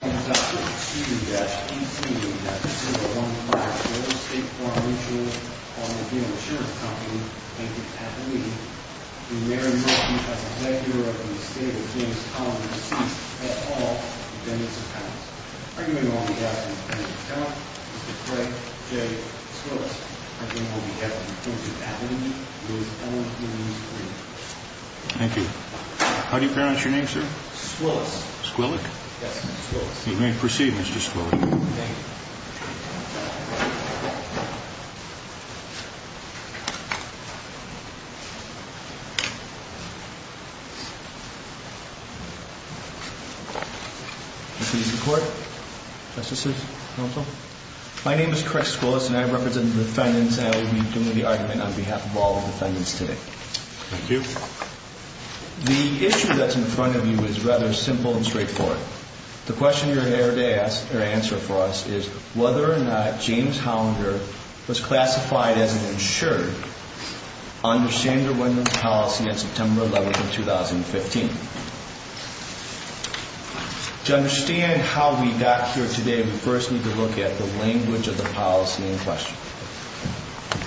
and Mary Murphy has led Europe in the state of Jamestown to cease at all dependence upon it. Our next guest is Craig J. Squillick. Thank you. How do you pronounce your name, sir? Squillick. You may proceed, Mr. Squillick. My name is Craig Squillick and I represent the defendants and I will be giving the argument on behalf of all the defendants today. Thank you. The issue that's in front of you is rather simple and straightforward. The question you're here to ask or answer for us is whether or not James Hollinger was classified as an insured under Sander Wendlandt's policy on September 11th of 2015. To understand how we got here today, we first need to look at the language of the policy in question.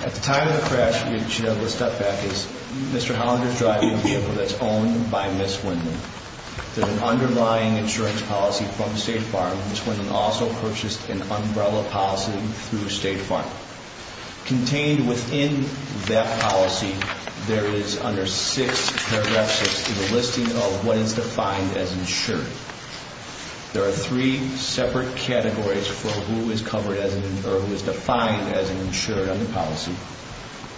At the time of the crash, which we'll step back, Mr. Hollinger's driving a vehicle that's owned by Ms. Wendlandt. There's an underlying insurance policy from State Farm. Ms. Wendlandt also purchased an umbrella policy through State Farm. Contained within that policy, there is under six paragraphs in the listing of what is defined as insured. There are three separate categories for who is defined as an insured under policy.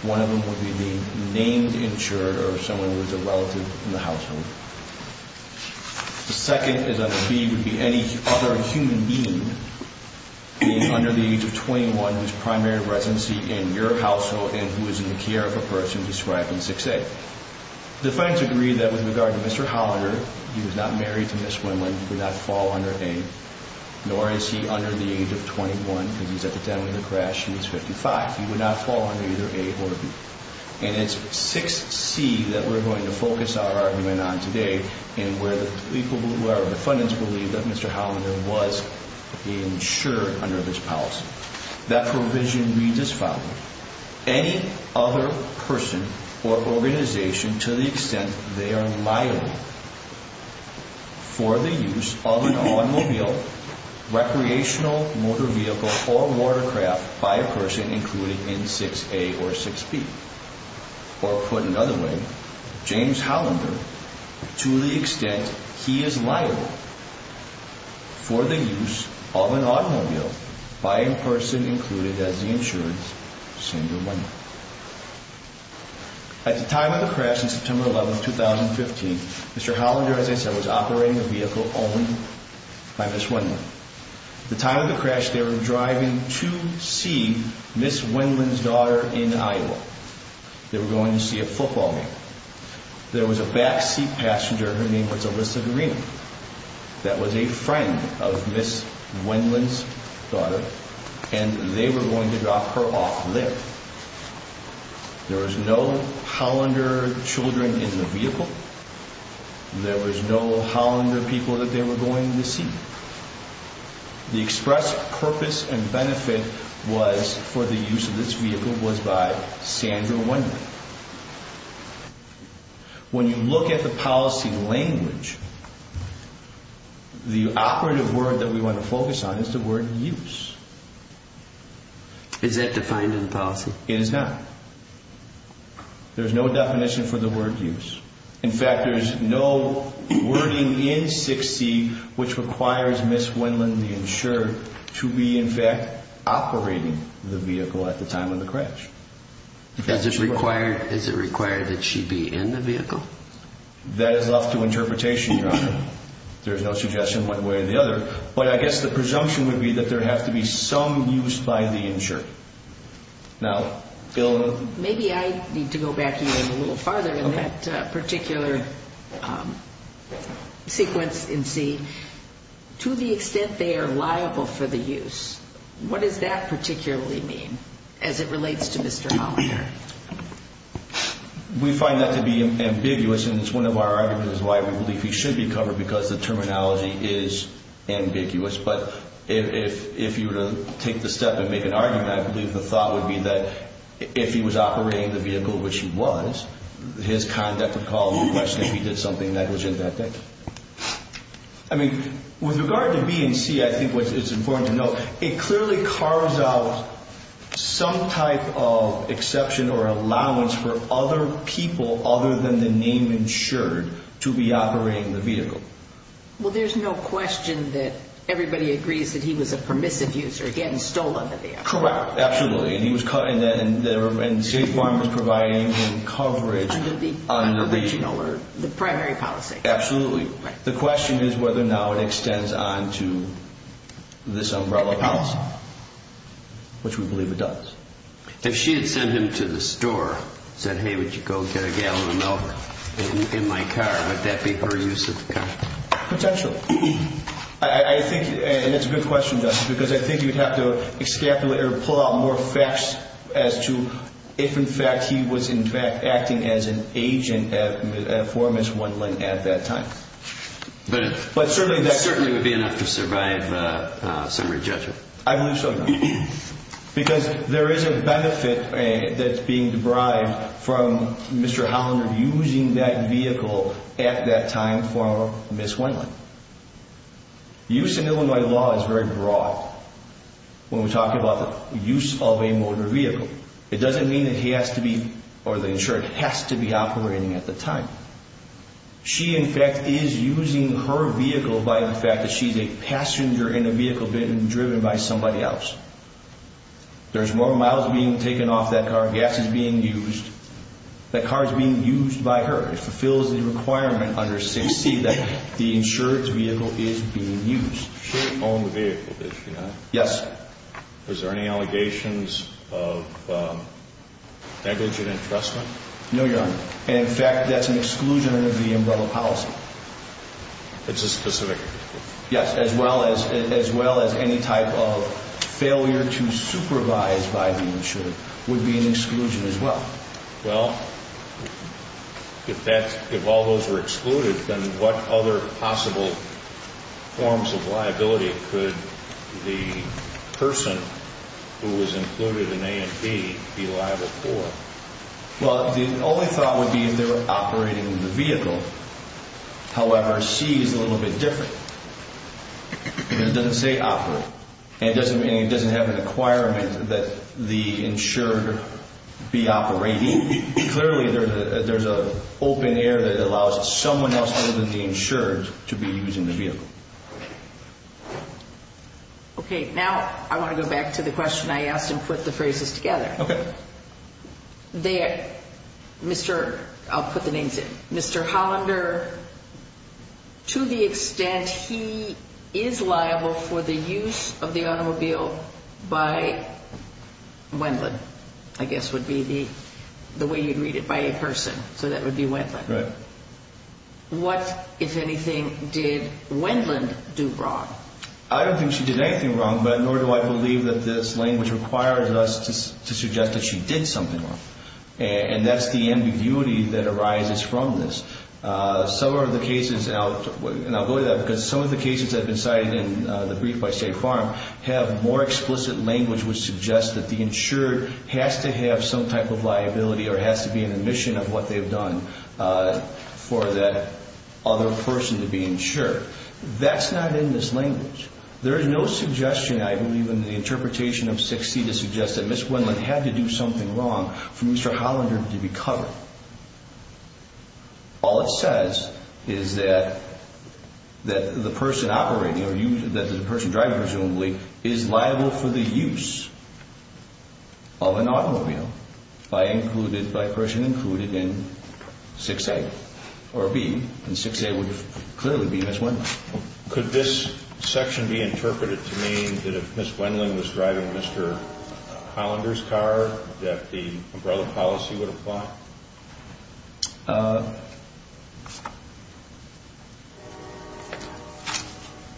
One of them would be the named insured or someone who is a relative in the household. The second would be any other human being under the age of 21 whose primary residency in your household and who is in the care of a person described in 6A. The defendants agree that with regard to Mr. Hollinger, he was not married to Ms. Wendlandt, he would not fall under A, nor is he under the age of 21 because he's at the time of the crash and he's 55. He would not fall under either A or B. And it's 6C that we're going to focus our argument on today and where the defendants believe that Mr. Hollinger was insured under this policy. That provision reads as follows. Any other person or organization to the extent they are liable for the use of an automobile, recreational motor vehicle, or watercraft by a person included in 6A or 6B. Or put another way, James Hollinger, to the extent he is liable for the use of an automobile by a person included as the insured, Senator Wendlandt. At the time of the crash in September 11, 2015, Mr. Hollinger, as I said, was operating a vehicle owned by Ms. Wendlandt. At the time of the crash, they were driving to see Ms. Wendlandt's daughter in Iowa. They were going to see a football game. There was a backseat passenger, her name was Alyssa Guarino, that was a friend of Ms. Wendlandt's daughter, and they were going to drop her off there. There was no Hollinger children in the vehicle. There was no Hollinger people that they were going to see. The express purpose and benefit was for the use of this vehicle was by Sandra Wendlandt. When you look at the policy language, the operative word that we want to focus on is the word use. Is that defined in the policy? It is not. There is no definition for the word use. In fact, there is no wording in 6C which requires Ms. Wendlandt, the insured, to be in fact operating the vehicle at the time of the crash. Is it required that she be in the vehicle? That is left to interpretation, Your Honor. There is no suggestion one way or the other. But I guess the presumption would be that there has to be some use by the insured. Maybe I need to go back even a little farther in that particular sequence in C. To the extent they are liable for the use, what does that particularly mean as it relates to Mr. Hollinger? We find that to be ambiguous and it is one of our arguments why we believe he should be covered because the terminology is ambiguous. But if you were to take the step and make an argument, I believe the thought would be that if he was operating the vehicle, which he was, his conduct would call into question if he did something negligent that day. I mean, with regard to B and C, I think what is important to note, it clearly carves out some type of exception or allowance for other people other than the name insured to be operating the vehicle. Well, there is no question that everybody agrees that he was a permissive user. He hadn't stolen the vehicle. Correct. Absolutely. And he was caught in that and State Farm was providing him coverage under the original or the primary policy. Absolutely. The question is whether now it extends on to this umbrella policy, which we believe it does. If she had sent him to the store and said, hey, would you go get a gallon of milk in my car, would that be her use of the car? Potentially, I think. And it's a good question, just because I think you'd have to extrapolate or pull out more facts as to if, in fact, he was in fact acting as an agent for Miss Wendland at that time. But certainly that certainly would be enough to survive a summary judgment. I believe so, because there is a benefit that's being derived from Mr. Hollander using that vehicle at that time for Miss Wendland. Use in Illinois law is very broad. When we talk about the use of a motor vehicle, it doesn't mean that he has to be or the insured has to be operating at the time. She, in fact, is using her vehicle by the fact that she's a passenger in a vehicle being driven by somebody else. There's more miles being taken off that car. Gas is being used. That car is being used by her. It fulfills the requirement under 6C that the insured's vehicle is being used. She owned the vehicle, did she not? Yes. Was there any allegations of negligent entrustment? No, Your Honor. In fact, that's an exclusion of the umbrella policy. It's a specific? Yes, as well as any type of failure to supervise by the insured would be an exclusion as well. Well, if all those were excluded, then what other possible forms of liability could the person who was included in A and B be liable for? Well, the only thought would be if they were operating the vehicle. However, C is a little bit different. It doesn't say operate. It doesn't mean it doesn't have an requirement that the insured be operating. Clearly, there's an open air that allows someone else other than the insured to be using the vehicle. Okay, now I want to go back to the question I asked and put the phrases together. Okay. I'll put the names in. Mr. Hollander, to the extent he is liable for the use of the automobile by Wendland, I guess would be the way you'd read it, by a person. So that would be Wendland. Right. What, if anything, did Wendland do wrong? I don't think she did anything wrong, but nor do I believe that this language requires us to suggest that she did something wrong. And that's the ambiguity that arises from this. Some of the cases, and I'll go to that, because some of the cases that have been cited in the brief by State Farm have more explicit language which suggests that the insured has to have some type of liability or has to be an admission of what they've done for that other person to be insured. That's not in this language. There is no suggestion, I believe, in the interpretation of 6C to suggest that Ms. Wendland had to do something wrong for Mr. Hollander to be covered. All it says is that the person operating or the person driving, presumably, is liable for the use of an automobile by a person included in 6A or B. And 6A would clearly be Ms. Wendland. Could this section be interpreted to mean that if Ms. Wendland was driving Mr. Hollander's car, that the umbrella policy would apply?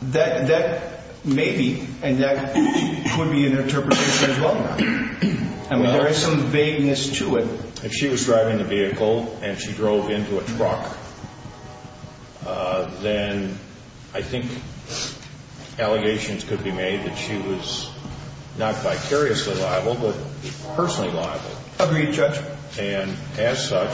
That may be, and that could be an interpretation as well. I mean, there is some vagueness to it. If she was driving the vehicle and she drove into a truck, then I think allegations could be made that she was not vicariously liable, but personally liable. Agreed, Judge. And as such,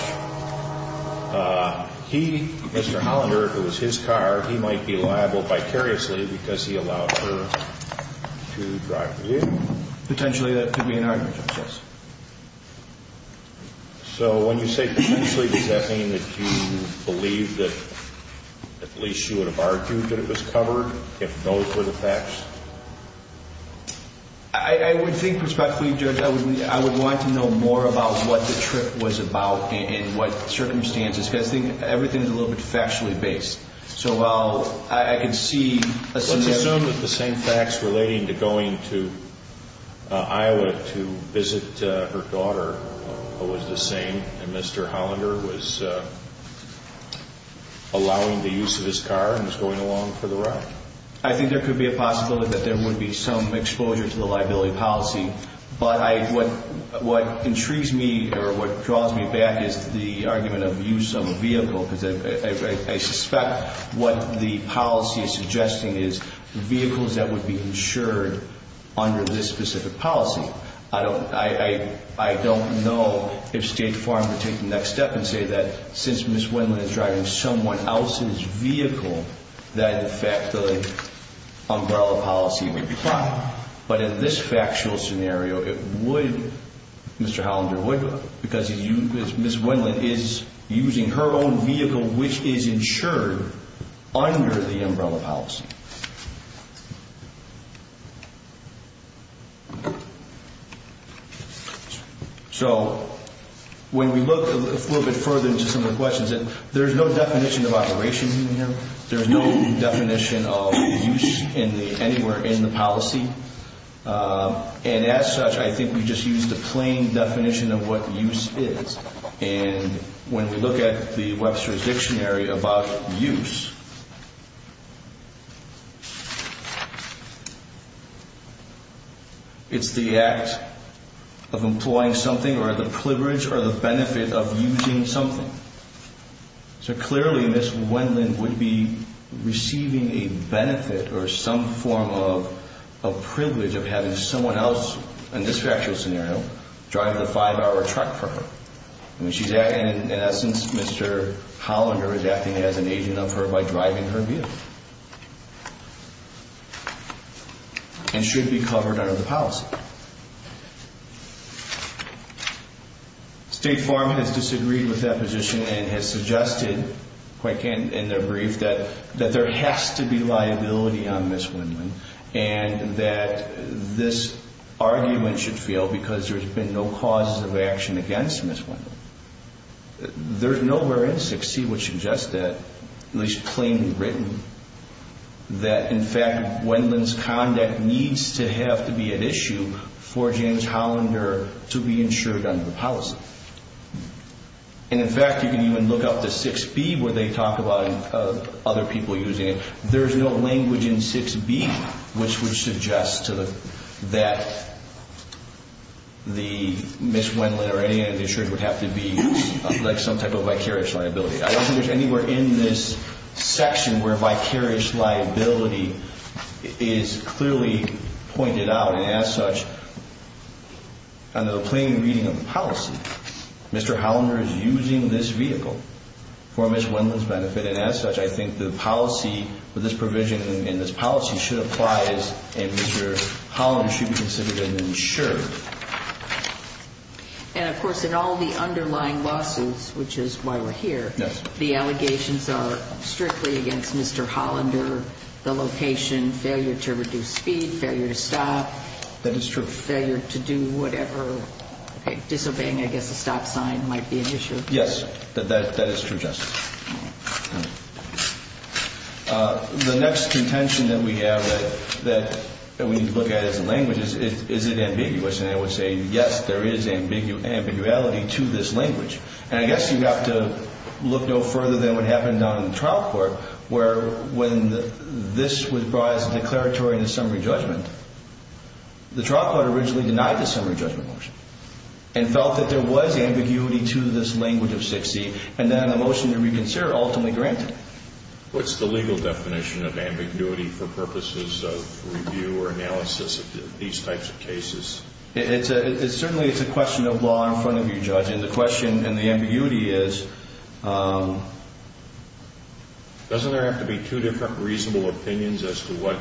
he, Mr. Hollander, it was his car, he might be liable vicariously because he allowed her to drive the vehicle. Potentially, that could be an argument, yes. So when you say potentially, does that mean that you believe that at least you would have argued that it was covered if those were the facts? I would think, prospectively, Judge, I would want to know more about what the trip was about and what circumstances, because I think everything is a little bit factually based. Let's assume that the same facts relating to going to Iowa to visit her daughter was the same, and Mr. Hollander was allowing the use of his car and was going along for the ride. I think there could be a possibility that there would be some exposure to the liability policy. But what intrigues me or what draws me back is the argument of use of a vehicle, because I suspect what the policy is suggesting is vehicles that would be insured under this specific policy. I don't know if State Farm would take the next step and say that since Ms. Wendland is driving someone else's vehicle, that in fact the umbrella policy would apply. But in this factual scenario, it would, Mr. Hollander would, because Ms. Wendland is using her own vehicle which is insured under the umbrella policy. So when we look a little bit further into some of the questions, there's no definition of operation here. There's no definition of use anywhere in the policy. And as such, I think we just use the plain definition of what use is. And when we look at the Webster's Dictionary about use, it's the act of employing something or the privilege or the benefit of using something. So clearly, Ms. Wendland would be receiving a benefit or some form of privilege of having someone else, in this factual scenario, drive the five-hour truck for her. In essence, Mr. Hollander is acting as an agent of her by driving her vehicle and should be covered under the policy. State Farm has disagreed with that position and has suggested, quite candidly in their brief, that there has to be liability on Ms. Wendland and that this argument should fail because there's been no causes of action against Ms. Wendland. There's nowhere in 6C which suggests that, at least plainly written, that in fact Wendland's conduct needs to have to be at issue for James Hollander to be insured under the policy. And in fact, you can even look up to 6B where they talk about other people using it. There's no language in 6B which would suggest that Ms. Wendland or any other insurer would have to be, like, some type of vicarious liability. I don't think there's anywhere in this section where vicarious liability is clearly pointed out and, as such, under the plain reading of the policy, Mr. Hollander is using this vehicle for Ms. Wendland's benefit and, as such, I think the policy, this provision in this policy should apply and Mr. Hollander should be considered an insurer. And, of course, in all the underlying lawsuits, which is why we're here, the allegations are strictly against Mr. Hollander, the location, failure to reduce speed, failure to stop, failure to do whatever, disobeying, I guess, a stop sign might be an issue. Yes, that is true, Justice. The next contention that we have that we need to look at as a language is, is it ambiguous? And I would say, yes, there is ambiguity to this language. And I guess you have to look no further than what happened down in the trial court where, when this was brought as a declaratory and a summary judgment, the trial court originally denied the summary judgment motion and felt that there was ambiguity to this language of 6C and then a motion to reconsider ultimately granted. What's the legal definition of ambiguity for purposes of review or analysis of these types of cases? Certainly, it's a question of law in front of you, Judge. And the question and the ambiguity is... Doesn't there have to be two different reasonable opinions as to what,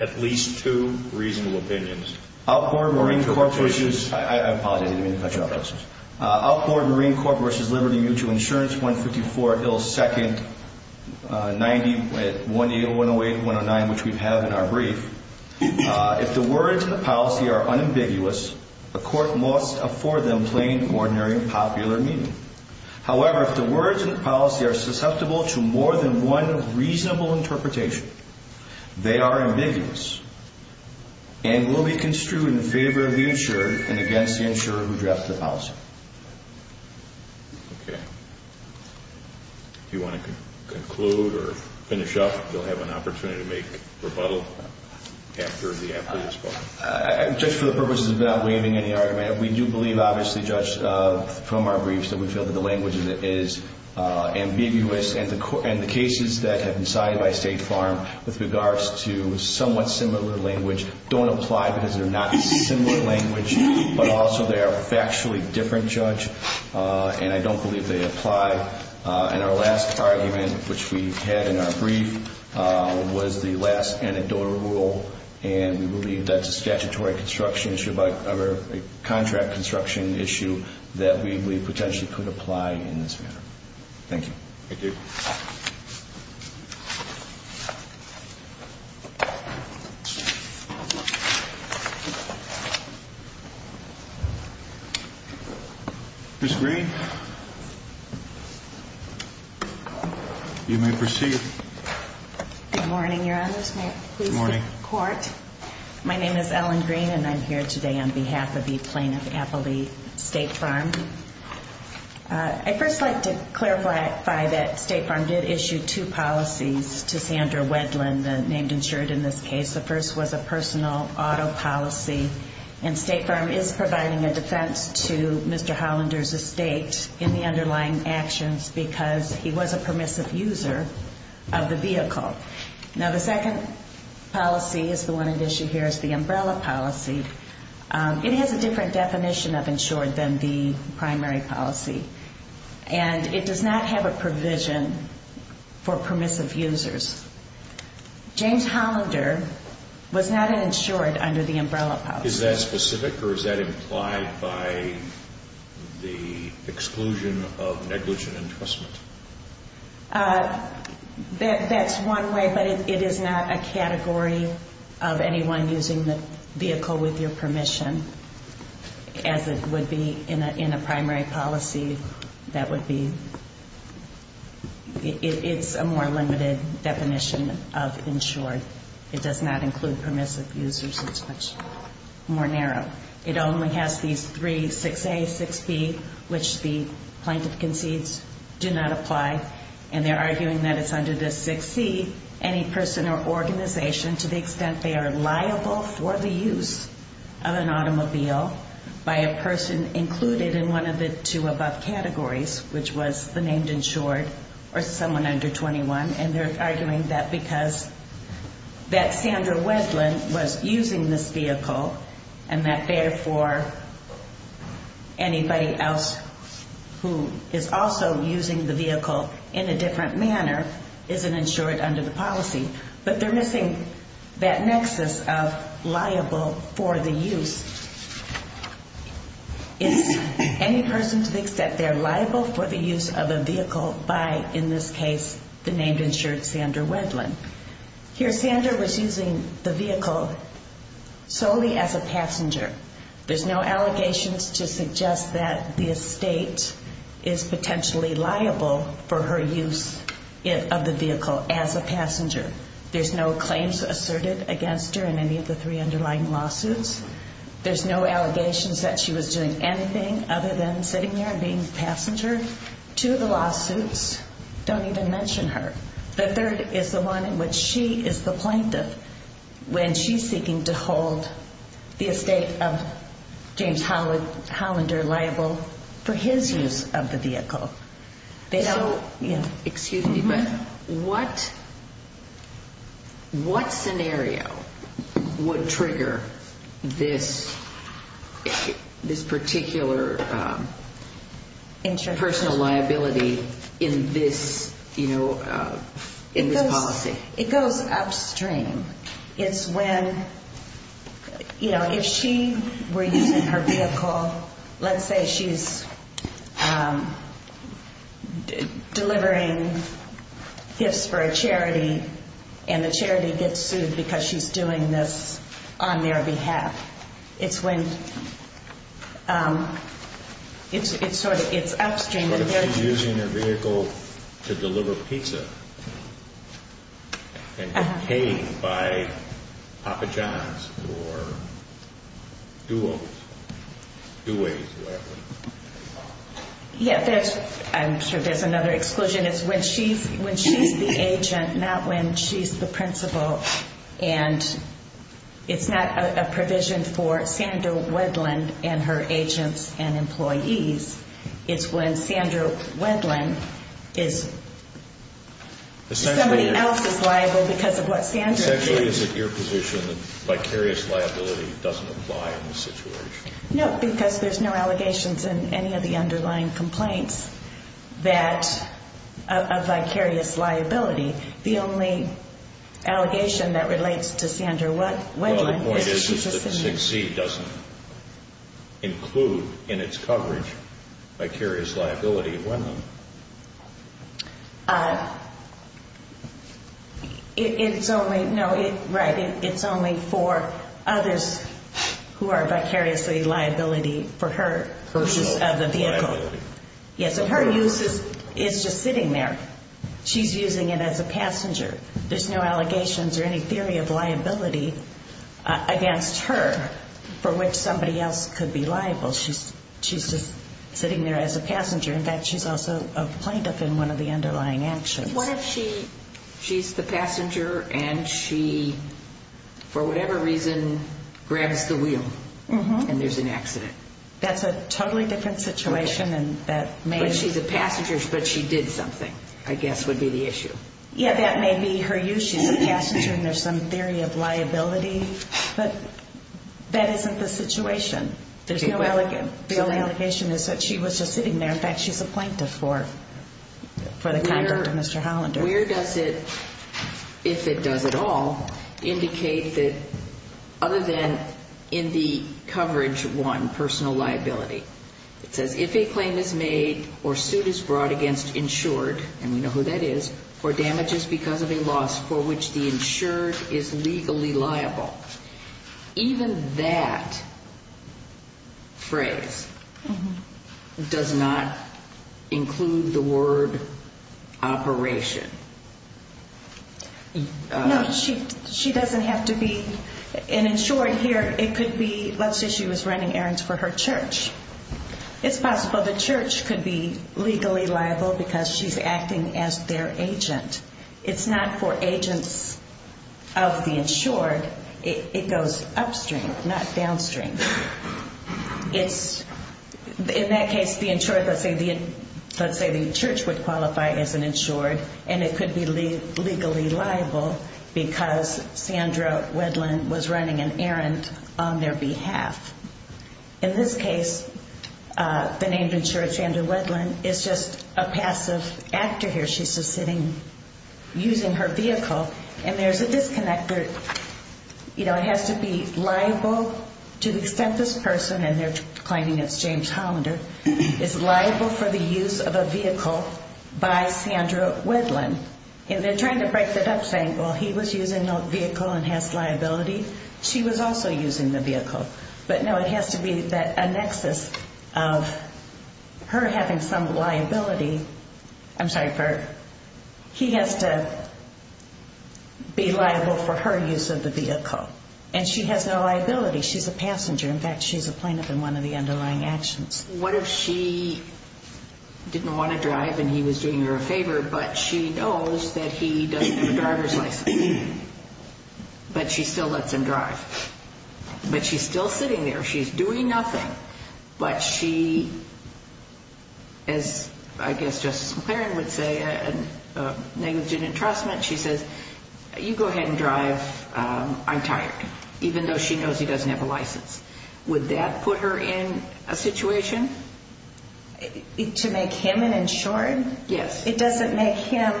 at least two reasonable opinions? I apologize. I didn't mean to cut you off, Justice. Outboard Marine Corp. v. Liberty Mutual Insurance, 154 Hill 2nd, 180108-109, which we have in our brief, if the words in the policy are unambiguous, a court must afford them plain, ordinary, and popular meaning. However, if the words in the policy are susceptible to more than one reasonable interpretation, they are ambiguous and will be construed in favor of the insurer and against the insurer who drafts the policy. Okay. Do you want to conclude or finish up? You'll have an opportunity to make rebuttal after the appeal is filed. Judge, for the purposes of not waiving any argument, we do believe, obviously, Judge, from our briefs, that we feel that the language in it is ambiguous. And the cases that have been cited by State Farm with regards to somewhat similar language don't apply because they're not similar language, but also they are factually different, Judge. And I don't believe they apply. And our last argument, which we had in our brief, was the last anecdotal rule. And we believe that's a statutory construction issue or a contract construction issue that we believe potentially could apply in this matter. Thank you. Thank you. Ms. Green? You may proceed. Good morning, Your Honors. May it please the Court? Good morning. My name is Ellen Green, and I'm here today on behalf of the plaintiff, Appleby State Farm. I'd first like to clarify that State Farm did issue two policies to Sandra Wedland, named insured in this case. The first was a personal auto policy. And State Farm is providing a defense to Mr. Hollander's estate in the underlying actions because he was a permissive user of the vehicle. Now, the second policy is the one at issue here is the umbrella policy. It has a different definition of insured than the primary policy, and it does not have a provision for permissive users. James Hollander was not an insured under the umbrella policy. Is that specific or is that implied by the exclusion of negligent entrustment? That's one way, but it is not a category of anyone using the vehicle with your permission, as it would be in a primary policy. That would be – it's a more limited definition of insured. It does not include permissive users. It's much more narrow. It only has these three, 6A, 6B, which the plaintiff concedes do not apply, and they're arguing that it's under the 6C, any person or organization, to the extent they are liable for the use of an automobile by a person included in one of the two above categories, which was the named insured or someone under 21. And they're arguing that because – that Sandra Wedlin was using this vehicle, and that therefore anybody else who is also using the vehicle in a different manner is an insured under the policy. But they're missing that nexus of liable for the use. It's any person to the extent they're liable for the use of a vehicle by, in this case, the named insured Sandra Wedlin. Here Sandra was using the vehicle solely as a passenger. There's no allegations to suggest that the estate is potentially liable for her use of the vehicle as a passenger. There's no claims asserted against her in any of the three underlying lawsuits. There's no allegations that she was doing anything other than sitting there and being a passenger to the lawsuits. Don't even mention her. The third is the one in which she is the plaintiff when she's seeking to hold the estate of James Hollander liable for his use of the vehicle. Excuse me, but what scenario would trigger this particular personal liability in this policy? It goes upstream. It's when, you know, if she were using her vehicle, let's say she's delivering gifts for a charity, and the charity gets sued because she's doing this on their behalf. It's when, it's sort of, it's upstream. What if she's using her vehicle to deliver pizza and get paid by Papa John's or Duos, two ways, whatever. Yeah, there's, I'm sure there's another exclusion. It's when she's the agent, not when she's the principal. And it's not a provision for Sandra Wedland and her agents and employees. It's when Sandra Wedland is, somebody else is liable because of what Sandra did. Essentially, is it your position that vicarious liability doesn't apply in this situation? No, because there's no allegations in any of the underlying complaints that, of vicarious liability. The only allegation that relates to Sandra Wedland is that she's a senior. Well, the point is that 6C doesn't include in its coverage vicarious liability of women. It's only, no, right, it's only for others who are vicariously liability for her, of the vehicle. Her use is just sitting there. She's using it as a passenger. There's no allegations or any theory of liability against her for which somebody else could be liable. She's just sitting there as a passenger. In fact, she's also a plaintiff in one of the underlying actions. What if she's the passenger and she, for whatever reason, grabs the wheel and there's an accident? That's a totally different situation. But she's a passenger, but she did something, I guess, would be the issue. Yeah, that may be her use. She's a passenger and there's some theory of liability. But that isn't the situation. The only allegation is that she was just sitting there. In fact, she's a plaintiff for the conduct of Mr. Hollander. Where does it, if it does at all, indicate that other than in the coverage one, personal liability? It says if a claim is made or suit is brought against insured, and we know who that is, for damages because of a loss for which the insured is legally liable. Even that phrase does not include the word operation. No, she doesn't have to be an insured here. It could be, let's say she was running errands for her church. It's possible the church could be legally liable because she's acting as their agent. It's not for agents of the insured. It goes upstream, not downstream. In that case, the insured, let's say the church would qualify as an insured, and it could be legally liable because Sandra Wedlin was running an errand on their behalf. In this case, the name insured, Sandra Wedlin, is just a passive actor here. She's just sitting using her vehicle, and there's a disconnect there. You know, it has to be liable to the extent this person, and they're claiming it's James Hollander, is liable for the use of a vehicle by Sandra Wedlin. And they're trying to break that up, saying, well, he was using the vehicle and has liability. She was also using the vehicle. But no, it has to be that a nexus of her having some liability. I'm sorry, he has to be liable for her use of the vehicle, and she has no liability. She's a passenger. In fact, she's a plaintiff in one of the underlying actions. What if she didn't want to drive and he was doing her a favor, but she knows that he doesn't have a driver's license, but she still lets him drive? But she's still sitting there. She's doing nothing. But she, as I guess Justice McClaren would say, a negligent entrustment, she says, you go ahead and drive, I'm tired, even though she knows he doesn't have a license. Would that put her in a situation? To make him an insured? Yes. It doesn't make him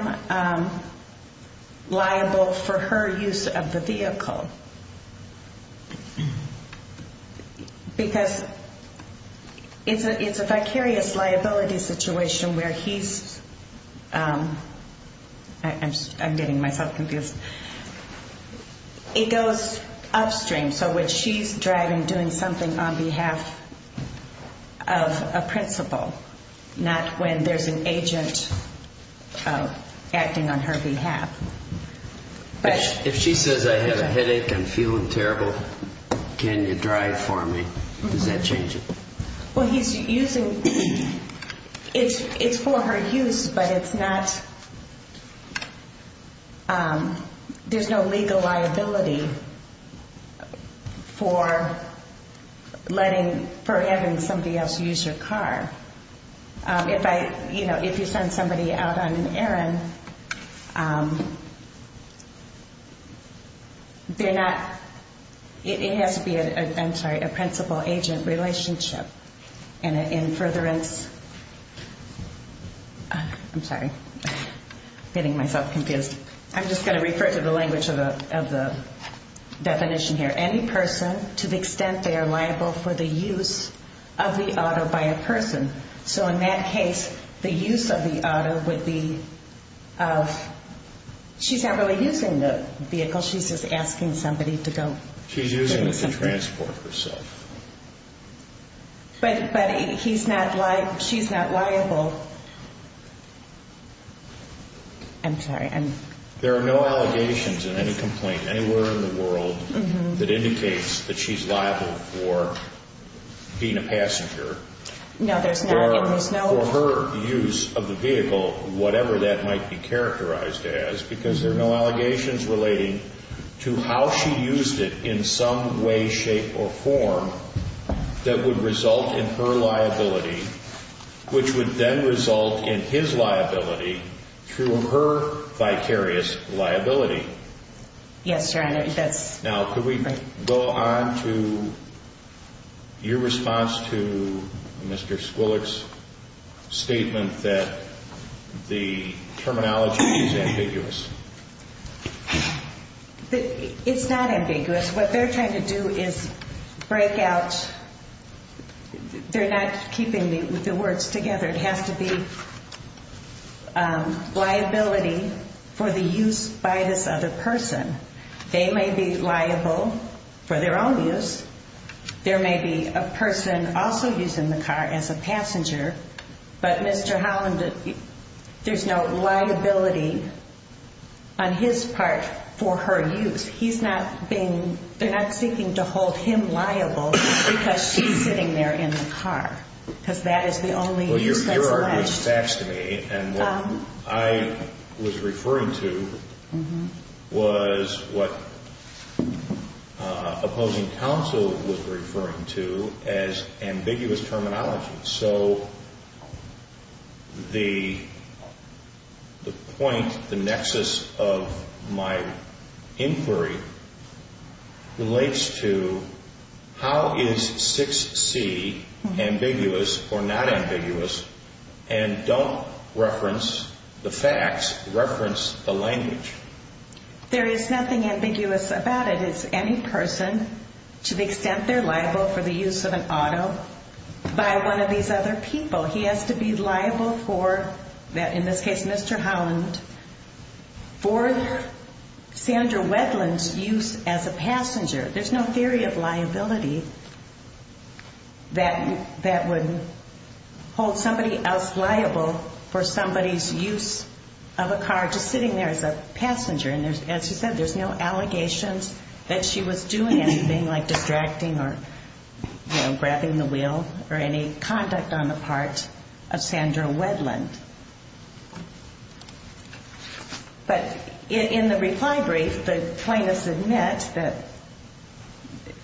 liable for her use of the vehicle. Because it's a vicarious liability situation where he's, I'm getting myself confused, it goes upstream. So when she's driving, doing something on behalf of a principal, not when there's an agent acting on her behalf. If she says, I have a headache, I'm feeling terrible, can you drive for me, does that change it? Well, he's using, it's for her use, but it's not, there's no legal liability for letting, for having somebody else use your car. If I, you know, if you send somebody out on an errand, they're not, it has to be, I'm sorry, a principal-agent relationship. And in furtherance, I'm sorry, getting myself confused. I'm just going to refer to the language of the definition here. To the extent they are liable for the use of the auto by a person. So in that case, the use of the auto would be of, she's not really using the vehicle, she's just asking somebody to go. She's using it to transport herself. But he's not, she's not liable. I'm sorry. There are no allegations in any complaint anywhere in the world that indicates that she's liable for being a passenger. No, there's not. For her use of the vehicle, whatever that might be characterized as, because there are no allegations relating to how she used it in some way, shape, or form that would result in her liability, which would then result in his liability through her vicarious liability. Yes, Your Honor. Now, could we go on to your response to Mr. Squillick's statement that the terminology is ambiguous? It's not ambiguous. What they're trying to do is break out, they're not keeping the words together. It has to be liability for the use by this other person. They may be liable for their own use. There may be a person also using the car as a passenger, but Mr. Holland, there's no liability on his part for her use. He's not being, they're not seeking to hold him liable because she's sitting there in the car, because that is the only use that's alleged. Well, Your Honor, it was faxed to me, and what I was referring to was what opposing counsel was referring to as ambiguous terminology. So the point, the nexus of my inquiry relates to how is 6C ambiguous or not ambiguous and don't reference the facts, reference the language. There is nothing ambiguous about it. It's any person to the extent they're liable for the use of an auto by one of these other people. He has to be liable for, in this case Mr. Holland, for Sandra Wedland's use as a passenger. There's no theory of liability that would hold somebody else liable for somebody's use of a car, just sitting there as a passenger. And as you said, there's no allegations that she was doing anything like distracting or grabbing the wheel or any conduct on the part of Sandra Wedland. But in the reply brief, the plaintiffs admit that,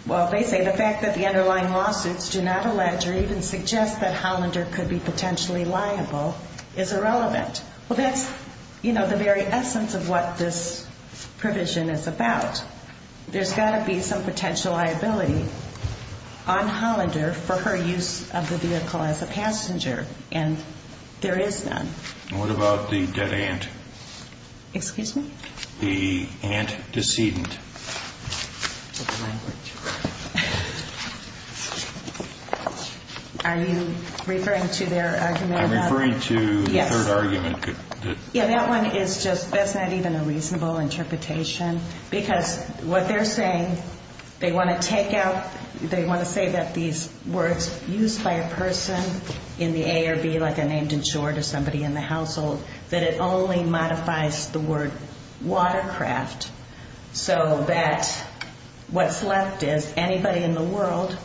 well, they say the fact that the underlying lawsuits do not allege or even suggest that Hollander could be potentially liable is irrelevant. Well, that's, you know, the very essence of what this provision is about. There's got to be some potential liability on Hollander for her use of the vehicle as a passenger, and there is none. And what about the dead aunt? Excuse me? The aunt decedent. Are you referring to their argument about... I'm referring to the third argument. Yeah, that one is just, that's not even a reasonable interpretation, because what they're saying, they want to take out, they want to say that these words used by a person in the A or B, like a named insured or somebody in the household, that it only modifies the word watercraft, so that what's left is anybody in the world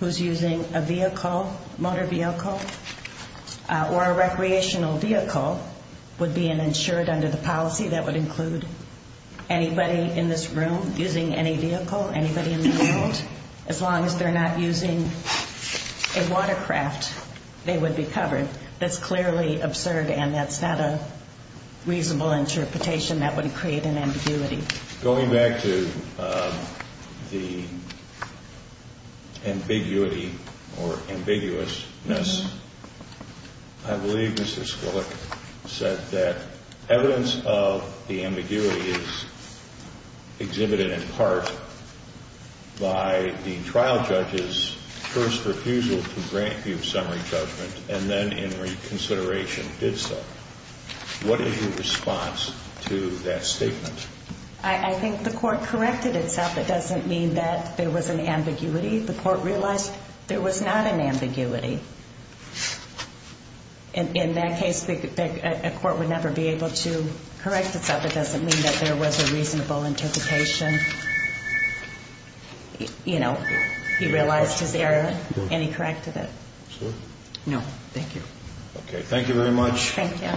who's using a vehicle, a motor vehicle, or a recreational vehicle would be an insured under the policy. That would include anybody in this room using any vehicle, anybody in the world. As long as they're not using a watercraft, they would be covered. That's clearly absurd, and that's not a reasonable interpretation. That would create an ambiguity. Going back to the ambiguity or ambiguousness, I believe Mr. Skwillick said that evidence of the ambiguity is exhibited in part by the trial judge's first refusal to grant the summary judgment and then in reconsideration did so. What is your response to that statement? I think the court corrected itself. It doesn't mean that there was an ambiguity. The court realized there was not an ambiguity. In that case, a court would never be able to correct itself. It doesn't mean that there was a reasonable interpretation. He realized his error, and he corrected it. No, thank you. Okay, thank you very much. Thank you.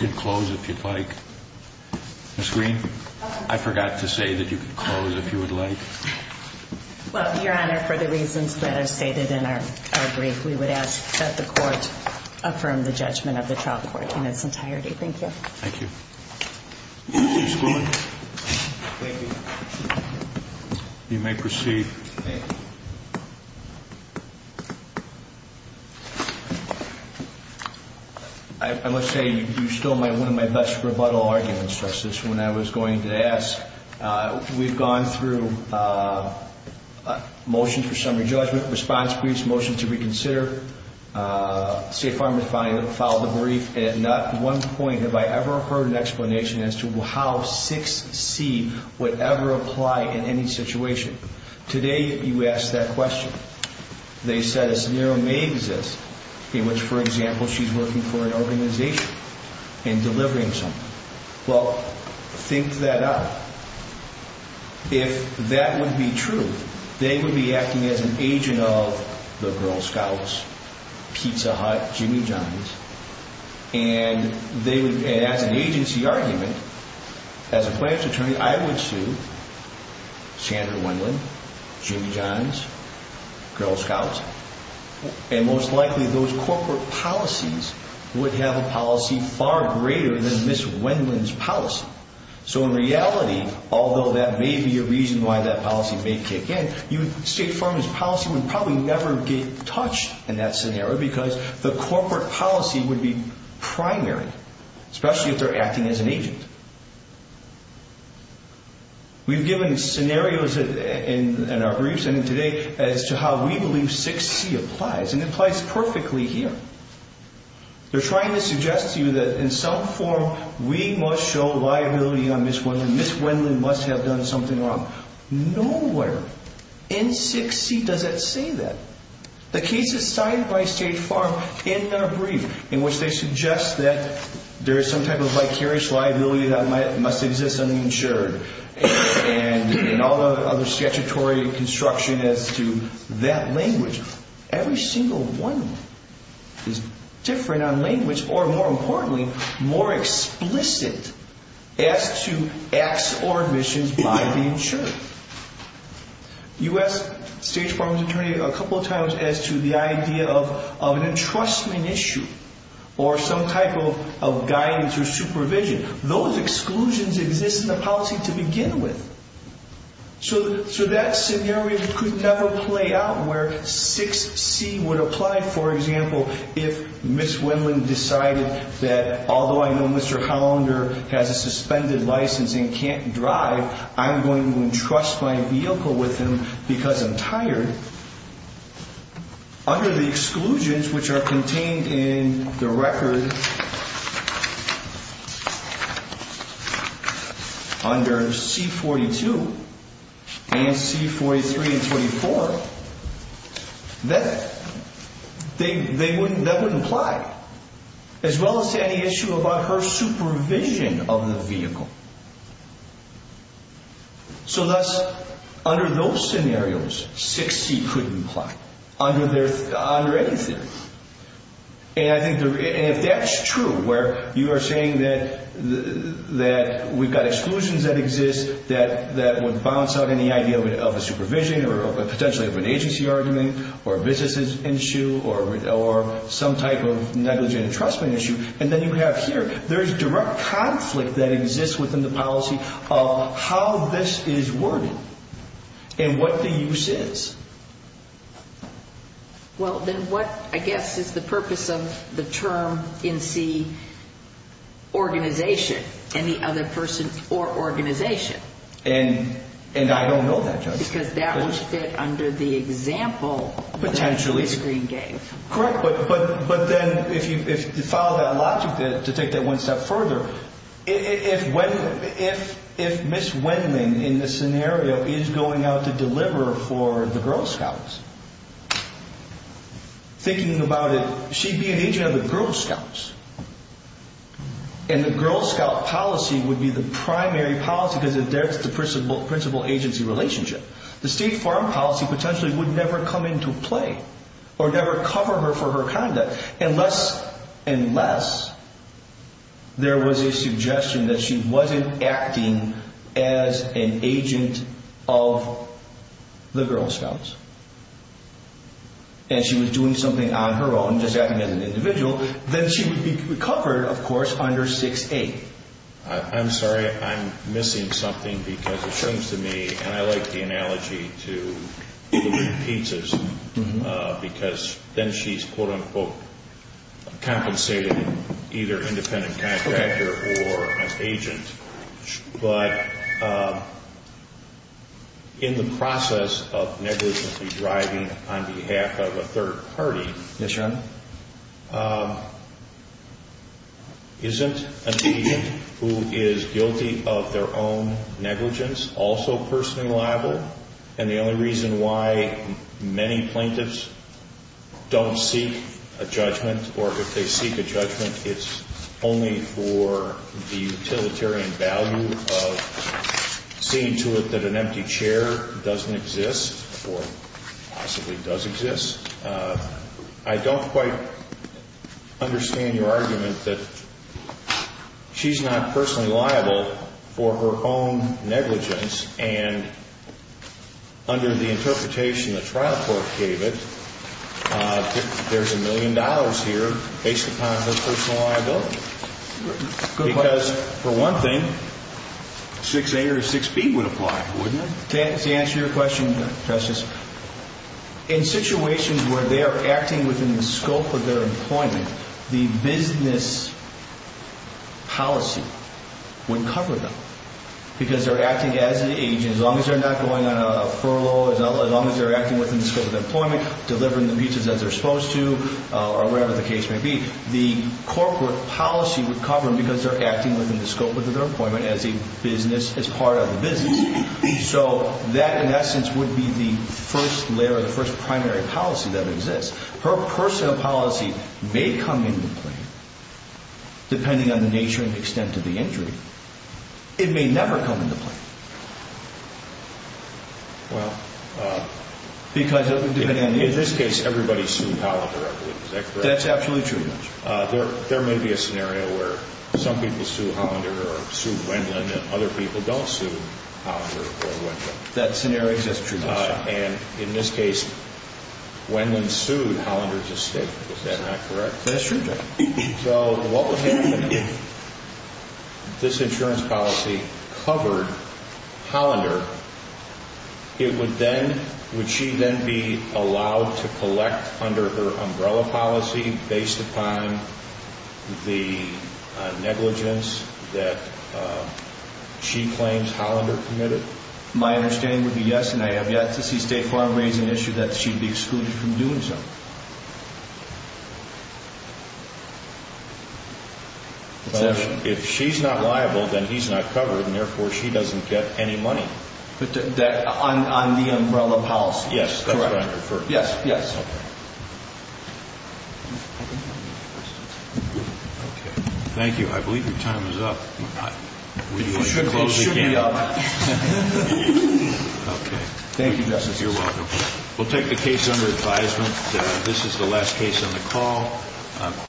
You can close if you'd like. Ms. Green? I forgot to say that you could close if you would like. Well, Your Honor, for the reasons that are stated in our brief, we would ask that the court affirm the judgment of the trial court in its entirety. Thank you. Thank you. Mr. Skwillick? Thank you. You may proceed. I must say you stole one of my best rebuttal arguments, Justice, when I was going to ask. We've gone through motions for summary judgment, response briefs, motions to reconsider. State Farmers filed the brief, and at not one point have I ever heard an explanation as to how 6C would ever apply in any situation. Today you asked that question. They said a scenario may exist in which, for example, she's working for an organization and delivering something. Well, think that up. If that would be true, they would be acting as an agent of the Girl Scouts, Pizza Hut, Jimmy John's, and as an agency argument, as a plaintiff's attorney, I would sue Sandra Wendland, Jimmy John's, Girl Scouts, and most likely those corporate policies would have a policy far greater than Ms. Wendland's policy. So in reality, although that may be a reason why that policy may kick in, State Farmers' policy would probably never get touched in that scenario because the corporate policy would be primary, especially if they're acting as an agent. We've given scenarios in our briefs and today as to how we believe 6C applies, and it applies perfectly here. They're trying to suggest to you that in some form we must show liability on Ms. Wendland, Ms. Wendland must have done something wrong. Nowhere in 6C does it say that. The case is cited by State Farm in their brief in which they suggest that there is some type of vicarious liability that must exist on the insured and all the other statutory construction as to that language. Every single one is different on language or more importantly, more explicit as to acts or admissions by the insured. You asked State Farm's attorney a couple of times as to the idea of an entrustment issue or some type of guidance or supervision. Those exclusions exist in the policy to begin with. So that scenario could never play out where 6C would apply, for example, if Ms. Wendland decided that although I know Mr. Hollander has a suspended license and can't drive, I'm going to entrust my vehicle with him because I'm tired. Under the exclusions which are contained in the record under C-42 and C-43 and 24, that wouldn't apply as well as to any issue about her supervision of the vehicle. So thus, under those scenarios, 6C couldn't apply. Under anything. And if that's true, where you are saying that we've got exclusions that exist that would bounce out any idea of a supervision or potentially of an agency argument or a business issue or some type of negligent entrustment issue, there's direct conflict that exists within the policy of how this is worded and what the use is. Well, then what, I guess, is the purpose of the term in C, organization, any other person or organization? And I don't know that, Judge. Because that would fit under the example that Ms. Green gave. Correct, but then if you follow that logic to take that one step further, if Ms. Wendman, in this scenario, is going out to deliver for the Girl Scouts, thinking about it, she'd be an agent of the Girl Scouts. And the Girl Scout policy would be the primary policy because that's the principal agency relationship. The State Farm policy potentially would never come into play or never cover her for her conduct unless there was a suggestion that she wasn't acting as an agent of the Girl Scouts. And she was doing something on her own, just acting as an individual, then she would be covered, of course, under 6A. I'm sorry, I'm missing something because it seems to me, and I like the analogy to delivering pizzas because then she's, quote-unquote, compensated either independent contractor or an agent. But in the process of negligently driving on behalf of a third party, isn't an agent who is guilty of their own negligence also personally liable? And the only reason why many plaintiffs don't seek a judgment or if they seek a judgment, it's only for the utilitarian value of seeing to it that an empty chair doesn't exist or possibly does exist. I don't quite understand your argument that she's not personally liable for her own negligence, and under the interpretation the trial court gave it, there's a million dollars here based upon her personal liability. Because for one thing, 6A or 6B would apply, wouldn't it? To answer your question, Justice, in situations where they are acting within the scope of their employment, the business policy would cover them because they're acting as an agent. As long as they're not going on a furlough, as long as they're acting within the scope of their employment, delivering the pizzas as they're supposed to, or wherever the case may be, the corporate policy would cover them because they're acting within the scope of their employment as part of the business. So that, in essence, would be the first layer or the first primary policy that exists. Her personal policy may come into play, depending on the nature and extent of the injury. It may never come into play. In this case, everybody sued Hollander, I believe. Is that correct? That's absolutely true, Your Honor. There may be a scenario where some people sue Hollander or sue Wendland and other people don't sue Hollander or Wendland. That scenario exists, Your Honor. And in this case, Wendland sued Hollander's estate. Is that not correct? That's true, Your Honor. So what would happen if this insurance policy covered Hollander? Would she then be allowed to collect under her umbrella policy based upon the negligence that she claims Hollander committed? My understanding would be yes, and I have yet to see State Farm raise an issue that she'd be excluded from doing so. If she's not liable, then he's not covered, and therefore she doesn't get any money. On the umbrella policy? Yes. That's what I'm referring to. Yes. Thank you. I believe your time is up. It should be up. Okay. Thank you, Justice. You're welcome. We'll take the case under advisement. This is the last case on the call.